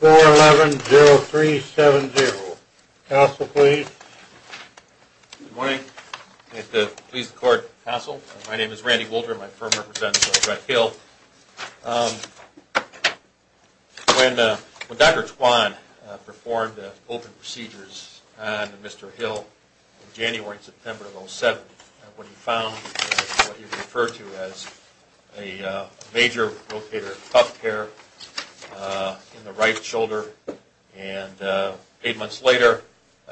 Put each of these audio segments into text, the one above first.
4-11-0-3-7-0. Counsel, please. Good morning. I'd like to please the court, counsel. My name is Randy Wolter. My firm represents Brett Hill. When Dr. Twan performed the open procedures on Mr. Hill in January and September of 07, when he found what he referred to as a major rotator cuff tear in the right shoulder, and eight months later,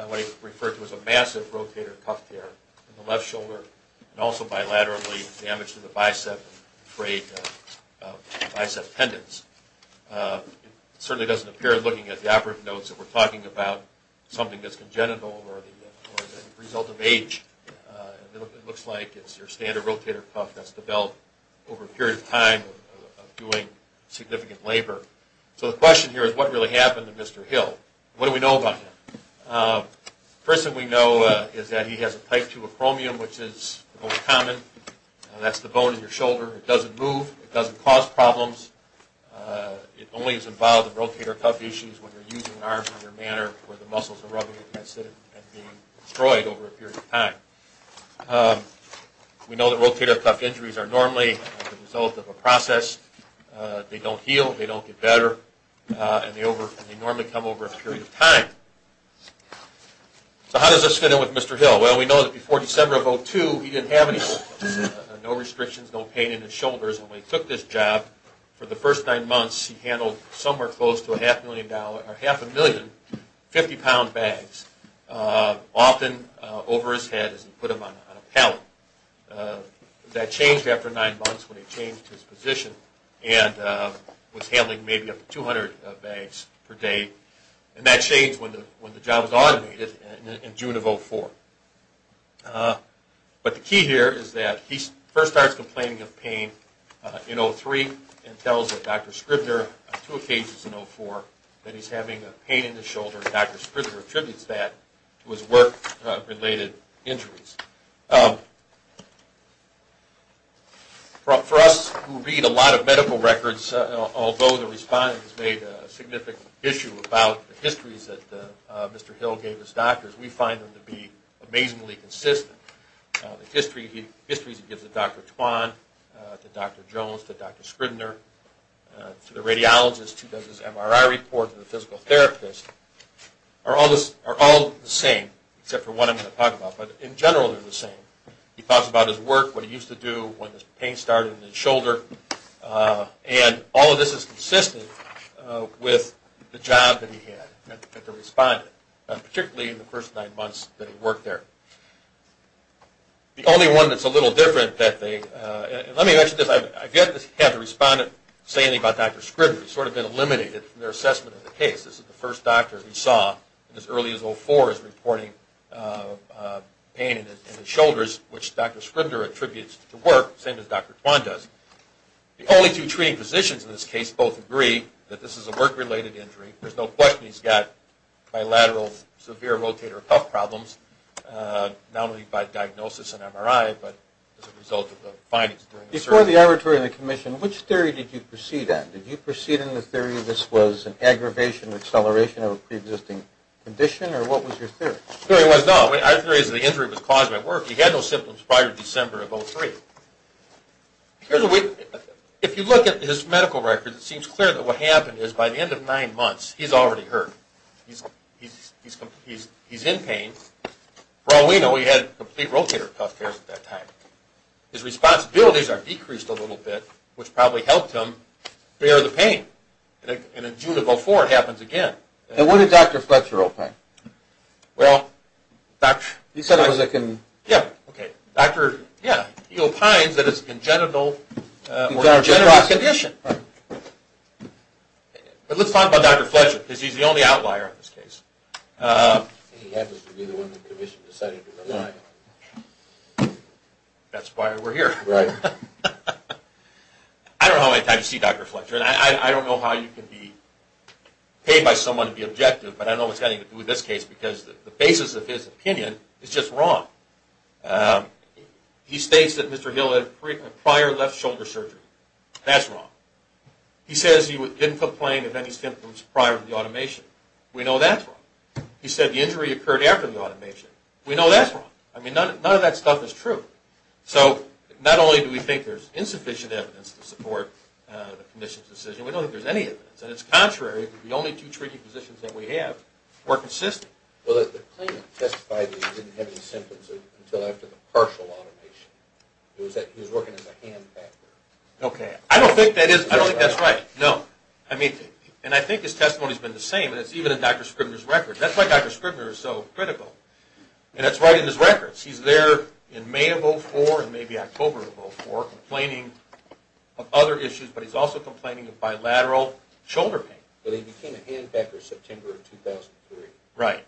what he referred to as a massive rotator cuff tear in the left shoulder, and also bilaterally damage to the bicep and frayed bicep tendons. It certainly doesn't appear, looking at the operative notes that we're talking about, something that's congenital or the result of age. It looks like it's your standard rotator cuff that's developed over a period of time of doing significant labor. So the question here is what really happened to Mr. Hill? What do we know about him? First thing we know is that he has a type 2 acromion, which is the most common. That's the bone in your shoulder. It doesn't move. It doesn't cause problems. It only is involved in rotator cuff issues when you're using arms in a manner where the muscles are rubbing against it and being destroyed over a period of time. We know that rotator cuff injuries are normally the result of a process. They don't heal. They don't get better, and they normally come over a period of time. So how does this fit in with Mr. Hill? Well, we know that before December of 02, he didn't have any restrictions, no pain in his shoulders. When we took this months, he handled somewhere close to a half a million 50-pound bags, often over his head as he put them on a pallet. That changed after nine months when he changed his position and was handling maybe up to 200 bags per day. And that changed when the job was automated in June of 04. But the key here is that he first starts complaining of pain in 03 and tells Dr. Scribner on two occasions in 04 that he's having a pain in his shoulder, and Dr. Scribner attributes that to his work-related injuries. For us who read a lot of medical records, although the respondent has made a significant issue about the histories that Mr. Hill gave his doctors, we find them to be amazingly consistent. The histories he the radiologist who does his MRI report, the physical therapist, are all the same except for one I'm going to talk about, but in general they're the same. He talks about his work, what he used to do, when his pain started in his shoulder, and all of this is consistent with the job that he had at the respondent, particularly in the first nine months that he worked there. The only one that's a about Dr. Scribner. He's sort of been eliminated from their assessment of the case. This is the first doctor we saw as early as 04 is reporting pain in his shoulders, which Dr. Scribner attributes to work, same as Dr. Twan does. The only two treating physicians in this case both agree that this is a work-related injury. There's no question he's got bilateral severe rotator cuff problems, not only by diagnosis and MRI, but as a result of the findings. Before the arbitrary commission, which theory did you proceed in? Did you proceed in the theory this was an aggravation or acceleration of a pre-existing condition, or what was your theory? The theory was no. Our theory is the injury was caused by work. He had no symptoms prior to December of 03. If you look at his medical records, it seems clear that what happened is by the end of nine months, he's already hurt. He's in pain. For all we know, he had complete rotator cuff affairs at that time. His responsibilities are decreased a little bit, which probably helped him bear the pain. And in June of 04, it happens again. And what did Dr. Fletcher opine? Well, he opines that it's a congenital condition. But let's talk about Dr. Fletcher, because he's the outlier in this case. He happens to be the one the commission decided to rely on. That's why we're here. Right. I don't know how many times you see Dr. Fletcher, and I don't know how you can be paid by someone to be objective, but I know it's got to do with this case, because the basis of his opinion is just wrong. He states that Mr. Hill had prior left shoulder surgery. That's wrong. He says he didn't complain of any symptoms prior to the automation. We know that's wrong. He said the injury occurred after the automation. We know that's wrong. I mean, none of that stuff is true. So not only do we think there's insufficient evidence to support the commission's decision, we don't think there's any evidence. And it's contrary to the only two treating positions that we have were consistent. Well, the claimant testified that he didn't have any symptoms until after the partial automation. It was that he was working as a hand factor. Okay. I don't think that's right. No. And I think his testimony's been the same, and it's even in Dr. Scribner's record. That's why Dr. Scribner is so critical. And it's right in his records. He's there in May of 2004 and maybe October of 2004 complaining of other issues, but he's also complaining of bilateral shoulder pain. But he became a hand factor in September of 2003. Right.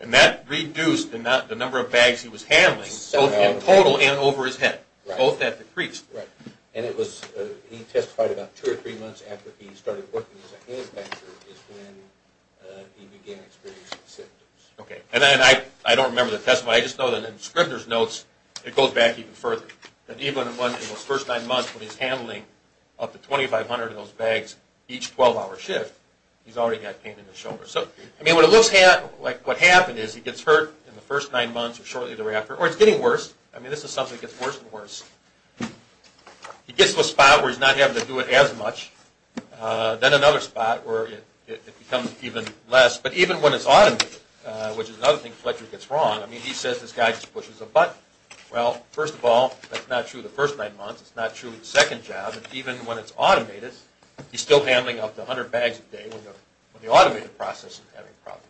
And that reduced the number of bags he was handling, both in total and over his head. Both that decreased. Right. And he testified about two or three months after he started working as a hand factor is when he began experiencing symptoms. Okay. And I don't remember the testimony. I just know that in Scribner's notes it goes back even further. That even in those first nine months when he's handling up to 2,500 of those bags each 12-hour shift, he's already got pain in his shoulder. So, I mean, what it looks like what happened is he gets hurt in the first nine months or shortly worse and worse. He gets to a spot where he's not having to do it as much. Then another spot where it becomes even less. But even when it's automated, which is another thing Fletcher gets wrong. I mean, he says this guy just pushes a button. Well, first of all, that's not true the first nine months. It's not true the second job. Even when it's automated, he's still handling up to 100 bags a day when the automated process is having problems.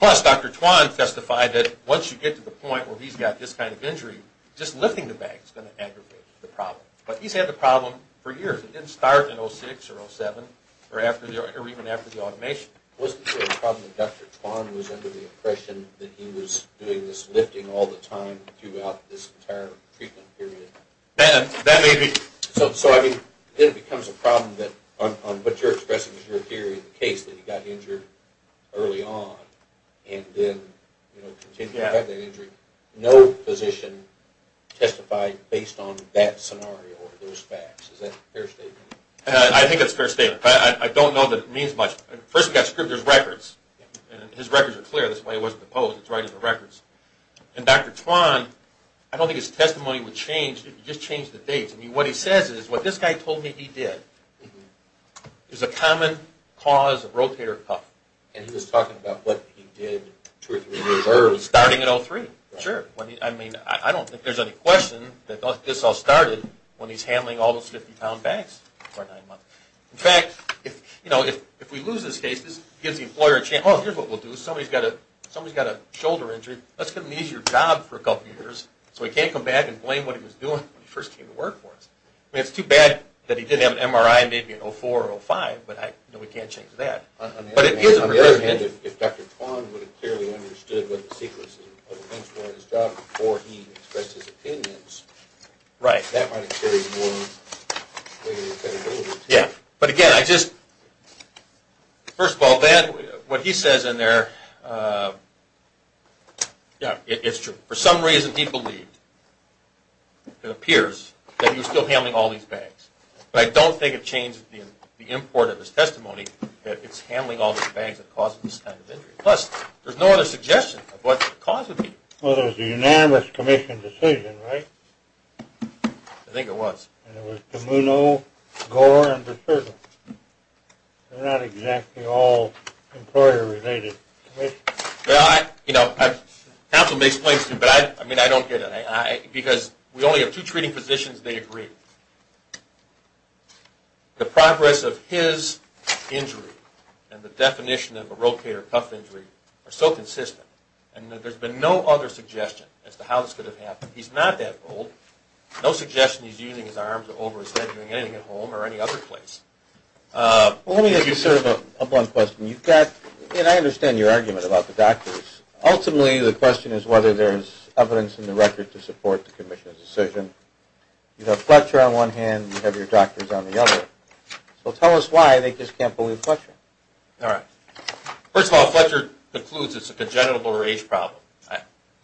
Plus, Dr. Twan testified that once you get to the point where he's got this kind of injury, just lifting the bag is going to aggravate the problem. But he's had the problem for years. It didn't start in 06 or 07 or even after the automation. Was the problem that Dr. Twan was under the impression that he was doing this lifting all the time throughout this entire treatment period? That may be. So, I mean, then it becomes a problem that what you're expressing is your theory of the case that he got injured early on and then continued to have that injury. No physician testified based on that scenario or those facts. Is that a fair statement? I think that's a fair statement, but I don't know that it means much. First, we've got Scribner's records, and his records are clear. That's why he wasn't opposed to writing the records. And Dr. Twan, I don't think his testimony would change if you just changed the dates. I mean, what he says is what this guy told me he did. It was a common cause of rotator cuff. And he was talking about what he did two or three years early. Starting in 03, sure. I mean, I don't think there's any question that this all started when he's handling all those 50-pound bags for nine months. In fact, if we lose this case, this gives the employer a chance. Oh, here's what we'll do. Somebody's got a shoulder injury. Let's give them an easier job for a couple years so he can't come back and blame what he was doing when he first came to work for us. I mean, it's too bad that he didn't have an MRI maybe in 04 or 05, but we can't change that. On the other hand, if Dr. Twan would have clearly understood what the sequence of events were in his job before he expressed his opinions, that might have carried more credibility. Yeah. But again, first of all, what he says in there, yeah, it's true. For some reason he believed, it appears, that he was still handling all these bags. But I don't think it changed the import of his testimony that it's handling all these bags that caused this kind of injury. Plus, there's no other suggestion of what caused the injury. Well, it was a unanimous commission decision, right? I think it was. And it was Camuno, Gore, and Berserker. They're not exactly all employer-related commissions. Well, you know, counsel may explain this to you, but I don't get it. Because we only have two treating physicians, and they agree. The progress of his injury and the definition of a rotator cuff injury are so consistent that there's been no other suggestion as to how this could have happened. He's not that old. No suggestion he's using his arms or over his head doing anything at home or any other place. Well, let me ask you sort of a blunt question. I understand your argument about the doctors. Ultimately, the question is whether there's evidence in the record to support the commission's decision. You have Fletcher on one hand, you have your doctors on the other. So tell us why they just can't believe Fletcher. All right. First of all, Fletcher concludes it's a congenital lower age problem.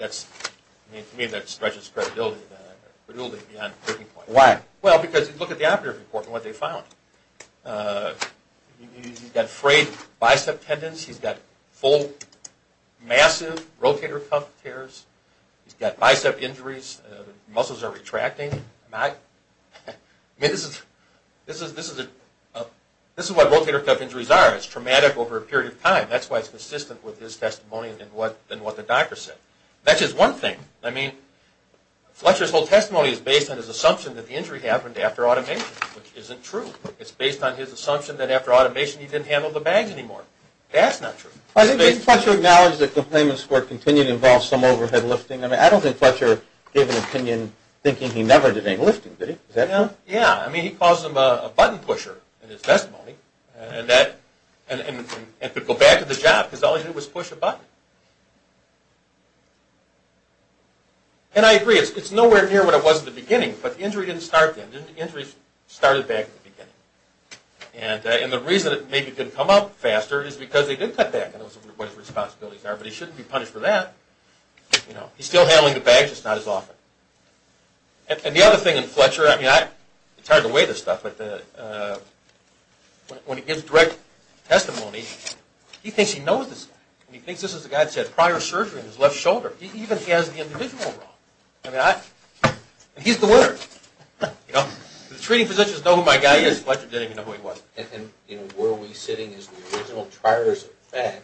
To me, that stretches the credibility of the doctor. Credibility beyond the breaking point. Why? Well, because look at the operative report and what they found. He's got frayed bicep tendons. He's got full, massive rotator cuff tears. He's got bicep injuries. The muscles are retracting. I mean, this is what rotator cuff injuries are. It's traumatic over a period of time. That's why it's consistent with his testimony and what the doctor said. That's just one thing. I mean, Fletcher's whole testimony is based on his assumption that the injury happened after automation, which isn't true. It's based on his assumption that after automation, he didn't handle the bags anymore. That's not true. I think Fletcher acknowledged that complainants were continuing to involve some overhead lifting. I mean, I don't think Fletcher gave an opinion thinking he never did any lifting, did he? Yeah. I mean, he calls him a button pusher in his testimony. And to go back to the job, because all he did was push a button. And I agree, it's nowhere near what it was at the beginning. But the injury didn't start then. The injury started back at the beginning. And the reason it maybe didn't come up faster is because they did cut back on what his responsibilities are. But he shouldn't be punished for that. He's still handling the bags, just not as often. And the other thing in Fletcher, I mean, it's hard to weigh this stuff, but when he gives direct testimony, he thinks he knows this guy. And he thinks this is the guy that's had prior surgery on his left shoulder. He even has the individual wrong. I mean, he's the winner. The treating physicians know who my guy is. Fletcher didn't even know who he was. And were we sitting as the original triers of fact,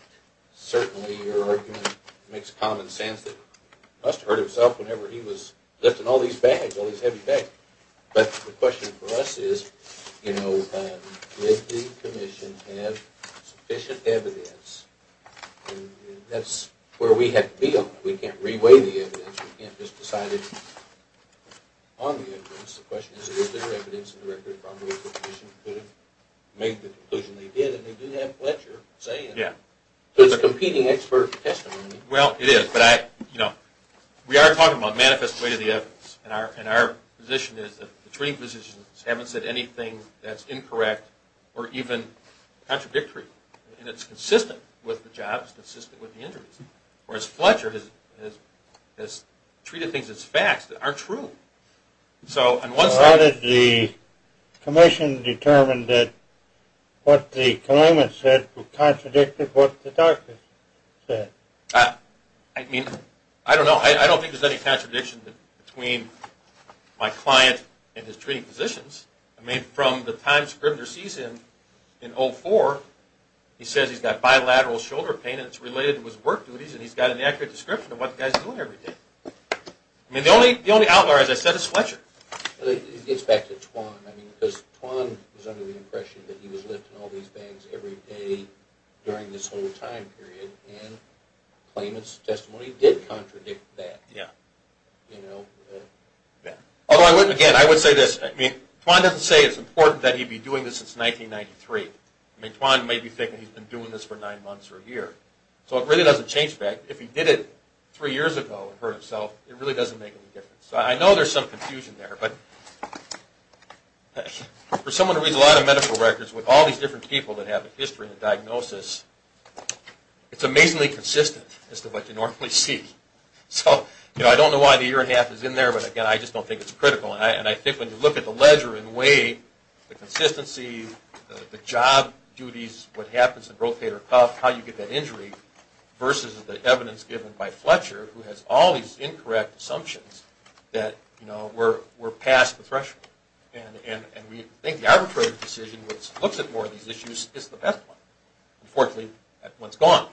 certainly your argument makes common sense that he must have hurt himself whenever he was lifting all these bags, all these heavy bags. But the question for us is, you know, did the commission have sufficient evidence? And that's where we have to be on that. We can't re-weigh the evidence. We can't just decide it on the evidence. The question is, is there evidence that the director of the departmental medical commission could have made the conclusion they did? And they do have Fletcher say it. It's competing expert testimony. Well, it is. But, you know, we are talking about manifest weight of the evidence. And our position is that the treating physicians haven't said anything that's incorrect or even contradictory. And it's consistent with the job. It's consistent with the injuries. Whereas Fletcher has treated things as facts that aren't true. So on one side of the commission determined that what the claimants said was contradictory to what the doctors said. I mean, I don't know. I don't think there's any contradiction between my client and his treating physicians. I mean, from the time the scrivener sees him in 04, he says he's got bilateral shoulder pain and it's related to his work duties and he's got an accurate description of what the guy's doing every day. I mean, the only outlier, as I said, is Fletcher. It gets back to Twan. I mean, because Twan was under the impression that he was lifting all these bags every day during this whole time period. And the claimant's testimony did contradict that. Yeah. Although, again, I would say this. I mean, Twan doesn't say it's important that he be doing this since 1993. I mean, Twan may be thinking he's been doing this for nine months or a year. So it really doesn't change the fact. If he did it three years ago and hurt himself, it really doesn't make any difference. So I know there's some confusion there. But for someone who reads a lot of medical records with all these different people that have a history and a diagnosis, it's amazingly consistent as to what you normally see. So, you know, I don't know why the year and a half is in there, but, again, I just don't think it's critical. And I think when you look at the ledger in a way, the consistency, the job duties, what happens in Rotator Cuff, how you get that injury, versus the evidence given by Fletcher, who has all these incorrect assumptions, that we're past the threshold. And we think the arbitrary decision, which looks at more of these issues, is the best one. Unfortunately, that one's gone.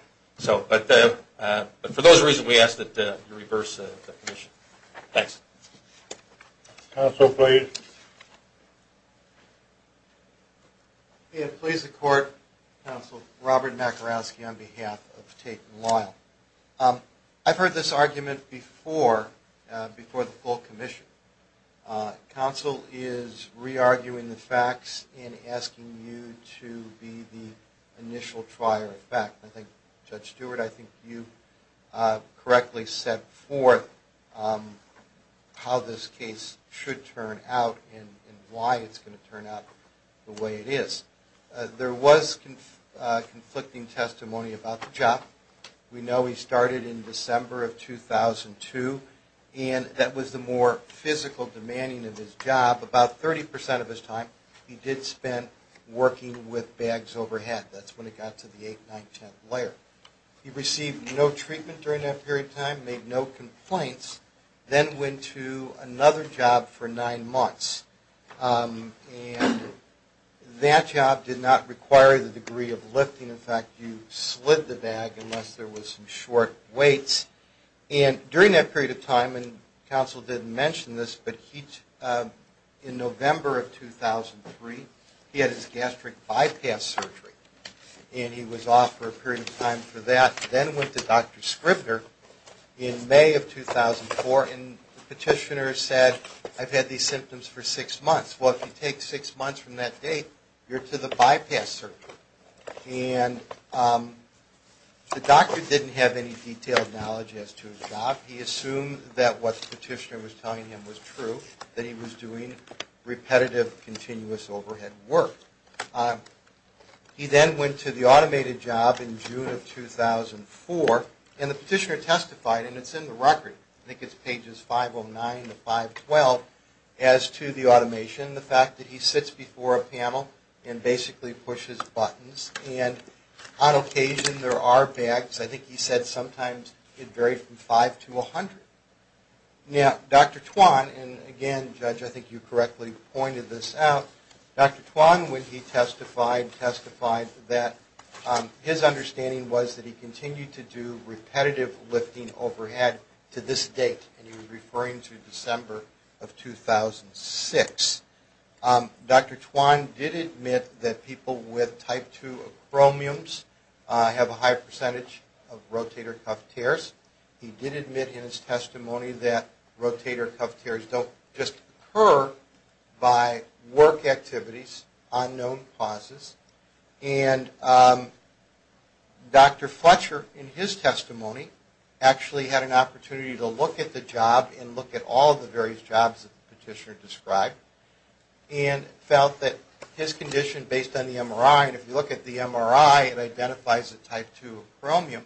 But for those reasons, we ask that you reverse the definition. Thanks. Counsel, please. Please, the Court. Counsel Robert Makarowski on behalf of Tate & Lyle. I've heard this argument before, before the full commission. Counsel is re-arguing the facts and asking you to be the initial trier of fact. I think, Judge Stewart, I think you correctly set forth how this case should turn out and why it's going to turn out the way it is. There was conflicting testimony about the job. We know he started in December of 2002, and that was the more physical demanding of his job. About 30% of his time he did spend working with bags overhead. That's when it got to the 8th, 9th, 10th layer. He received no treatment during that period of time, made no complaints, then went to another job for nine months. And that job did not require the degree of lifting. In fact, you slid the bag unless there was some short weights. And during that period of time, and Counsel didn't mention this, but in November of 2003, he had his gastric bypass surgery, and he was off for a period of time for that. Then went to Dr. Scribner in May of 2004, and the petitioner said, I've had these symptoms for six months. Well, if you take six months from that date, you're to the bypass surgery. And the doctor didn't have any detailed knowledge as to his job. He assumed that what the petitioner was telling him was true, that he was doing repetitive, continuous overhead work. He then went to the automated job in June of 2004, and the petitioner testified, and it's in the record, I think it's pages 509 to 512, as to the automation, the fact that he sits before a panel and basically pushes buttons. And on occasion there are bags. I think he said sometimes it varied from 5 to 100. Now, Dr. Twan, and again, Judge, I think you correctly pointed this out, Dr. Twan, when he testified, testified that his understanding was that he continued to do repetitive lifting overhead to this date, and he was referring to December of 2006. Dr. Twan did admit that people with type 2 acromiums have a high percentage of rotator cuff tears. He did admit in his testimony that rotator cuff tears don't just occur by work activities, unknown causes. And Dr. Fletcher, in his testimony, actually had an opportunity to look at the job and look at all the various jobs that the petitioner described, and felt that his condition, based on the MRI, and if you look at the MRI, it identifies a type 2 acromium.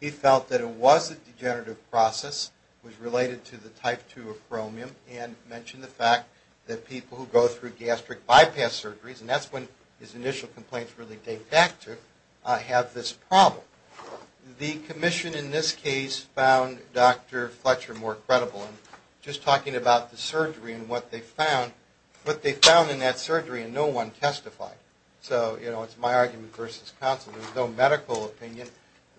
He felt that it was a degenerative process, was related to the type 2 acromium, and mentioned the fact that people who go through gastric bypass surgeries, and that's when his initial complaints really date back to, have this problem. The commission, in this case, found Dr. Fletcher more credible. Just talking about the surgery and what they found, what they found in that surgery, and no one testified. So, you know, it's my argument versus counsel. There's no medical opinion.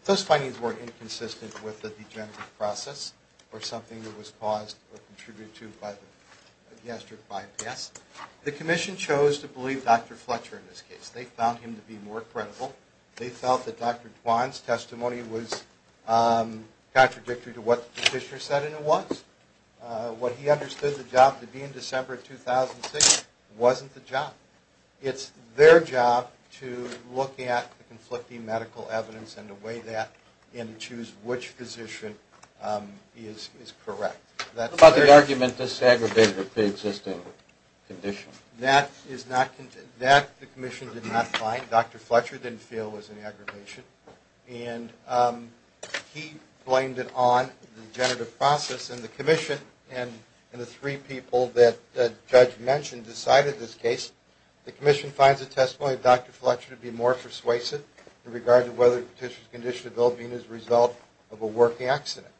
Those findings weren't inconsistent with the degenerative process or something that was caused or contributed to by the gastric bypass. The commission chose to believe Dr. Fletcher in this case. They found him to be more credible. They felt that Dr. Twan's testimony was contradictory to what the petitioner said it was. What he understood the job to be in December 2006 wasn't the job. It's their job to look at the conflicting medical evidence and to weigh that and to choose which physician is correct. What about the argument this aggravated with the existing condition? That the commission did not find. Dr. Fletcher didn't feel was an aggravation. And he blamed it on the degenerative process, and the commission, and the three people that the judge mentioned decided this case. The commission finds the testimony of Dr. Fletcher to be more persuasive in regard to whether the petitioner's condition of ill-being is the result of a working accident.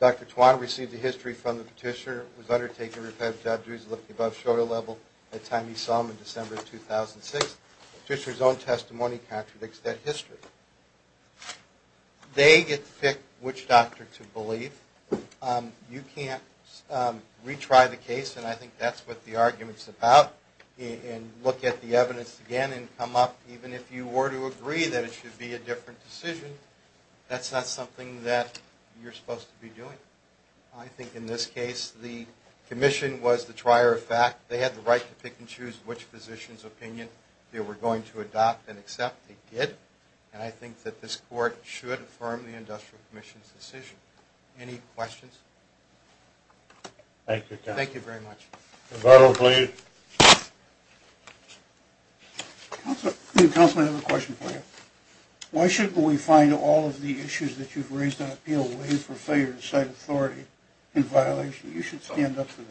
Dr. Twan received the history from the petitioner, was undertaken repetitive job duties above shoulder level at the time he saw him in December 2006. The petitioner's own testimony contradicts that history. They get to pick which doctor to believe. You can't retry the case, and I think that's what the argument's about, and look at the evidence again and come up, even if you were to agree that it should be a different decision, that's not something that you're supposed to be doing. I think in this case the commission was the trier of fact. They had the right to pick and choose which physician's opinion they were going to adopt and accept. They did, and I think that this court should affirm the industrial commission's decision. Any questions? Thank you, counsel. Thank you very much. Rebuttal, please. Counsel, I have a question for you. Why shouldn't we find all of the issues that you've raised on appeal way for failure to cite authority in violation? You should stand up for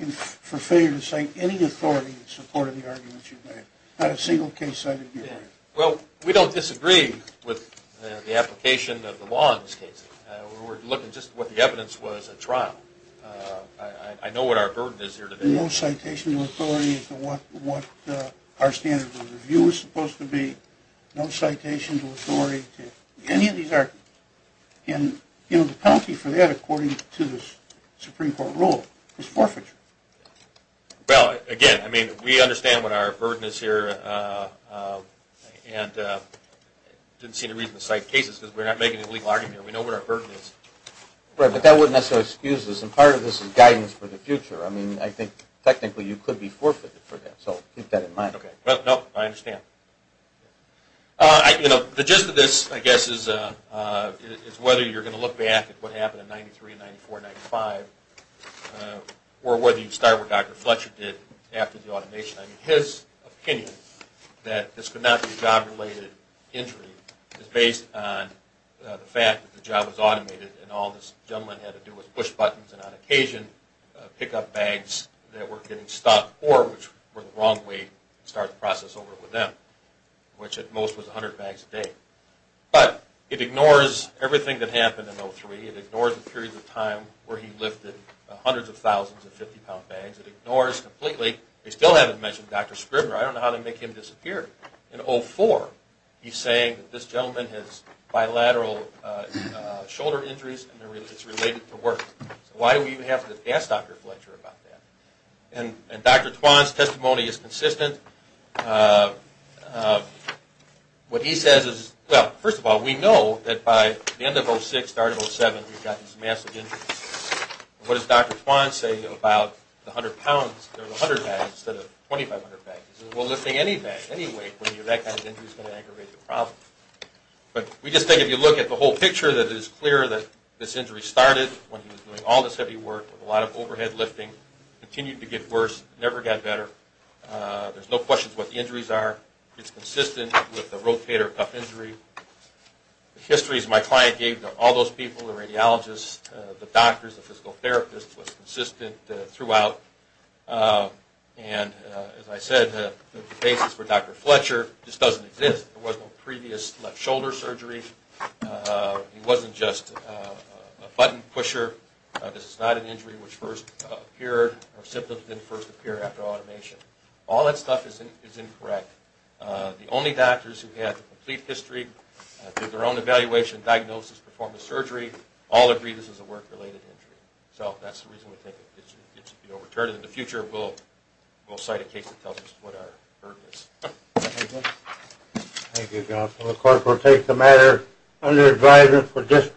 this. For failure to cite any authority in support of the arguments you've made, not a single case cited here. Well, we don't disagree with the application of the law in this case. We were looking just at what the evidence was at trial. I know what our burden is here today. No citation of authority to what our standard of review was supposed to be, no citation of authority to any of these arguments. And, you know, the penalty for that, according to this Supreme Court rule, is forfeiture. Well, again, I mean, we understand what our burden is here and I didn't see any reason to cite cases because we're not making a legal argument here. We know what our burden is. Right, but that wouldn't necessarily excuse this, and part of this is guidance for the future. I mean, I think technically you could be forfeited for that, so keep that in mind. No, I understand. You know, the gist of this, I guess, is whether you're going to look back at what happened in 93 and 94 and 95 or whether you start with what Dr. Fletcher did after the automation. I mean, his opinion that this could not be a job-related injury is based on the fact that the job was automated and all this gentleman had to do was push buttons and on occasion pick up bags that were getting stuck or, which were the wrong way, start the process over with them, which at most was 100 bags a day. But it ignores everything that happened in 03. It ignores the period of time where he lifted hundreds of thousands of 50-pound bags. It ignores completely, they still haven't mentioned Dr. Scribner. I don't know how they make him disappear. In 04, he's saying that this gentleman has bilateral shoulder injuries and it's related to work. So why do we even have to ask Dr. Fletcher about that? And Dr. Twan's testimony is consistent. What he says is, well, first of all, we know that by the end of 06, the start of 07, we've gotten some massive injuries. What does Dr. Twan say about the 100 pounds or the 100 bags instead of 2,500 bags? He says, well, lifting any bag, any weight when you're that kind of injury is going to aggravate the problem. But we just think if you look at the whole picture that it is clear that this injury started when he was doing all this heavy work with a lot of overhead lifting, continued to get worse, never got better. There's no questions what the injuries are. It's consistent with the rotator cuff injury. The histories my client gave to all those people, the radiologists, the doctors, the physical therapists, was consistent throughout. And as I said, the basis for Dr. Fletcher just doesn't exist. There was no previous left shoulder surgery. He wasn't just a button pusher. This is not an injury which first appeared or symptoms didn't first appear after automation. All that stuff is incorrect. The only doctors who had the complete history, did their own evaluation, diagnosis, performed the surgery, all agree this is a work-related injury. So that's the reason we think it should be overturned. In the future, we'll cite a case that tells us what our burden is. Thank you. Thank you, John. So the court will take the matter under advisement for disposition.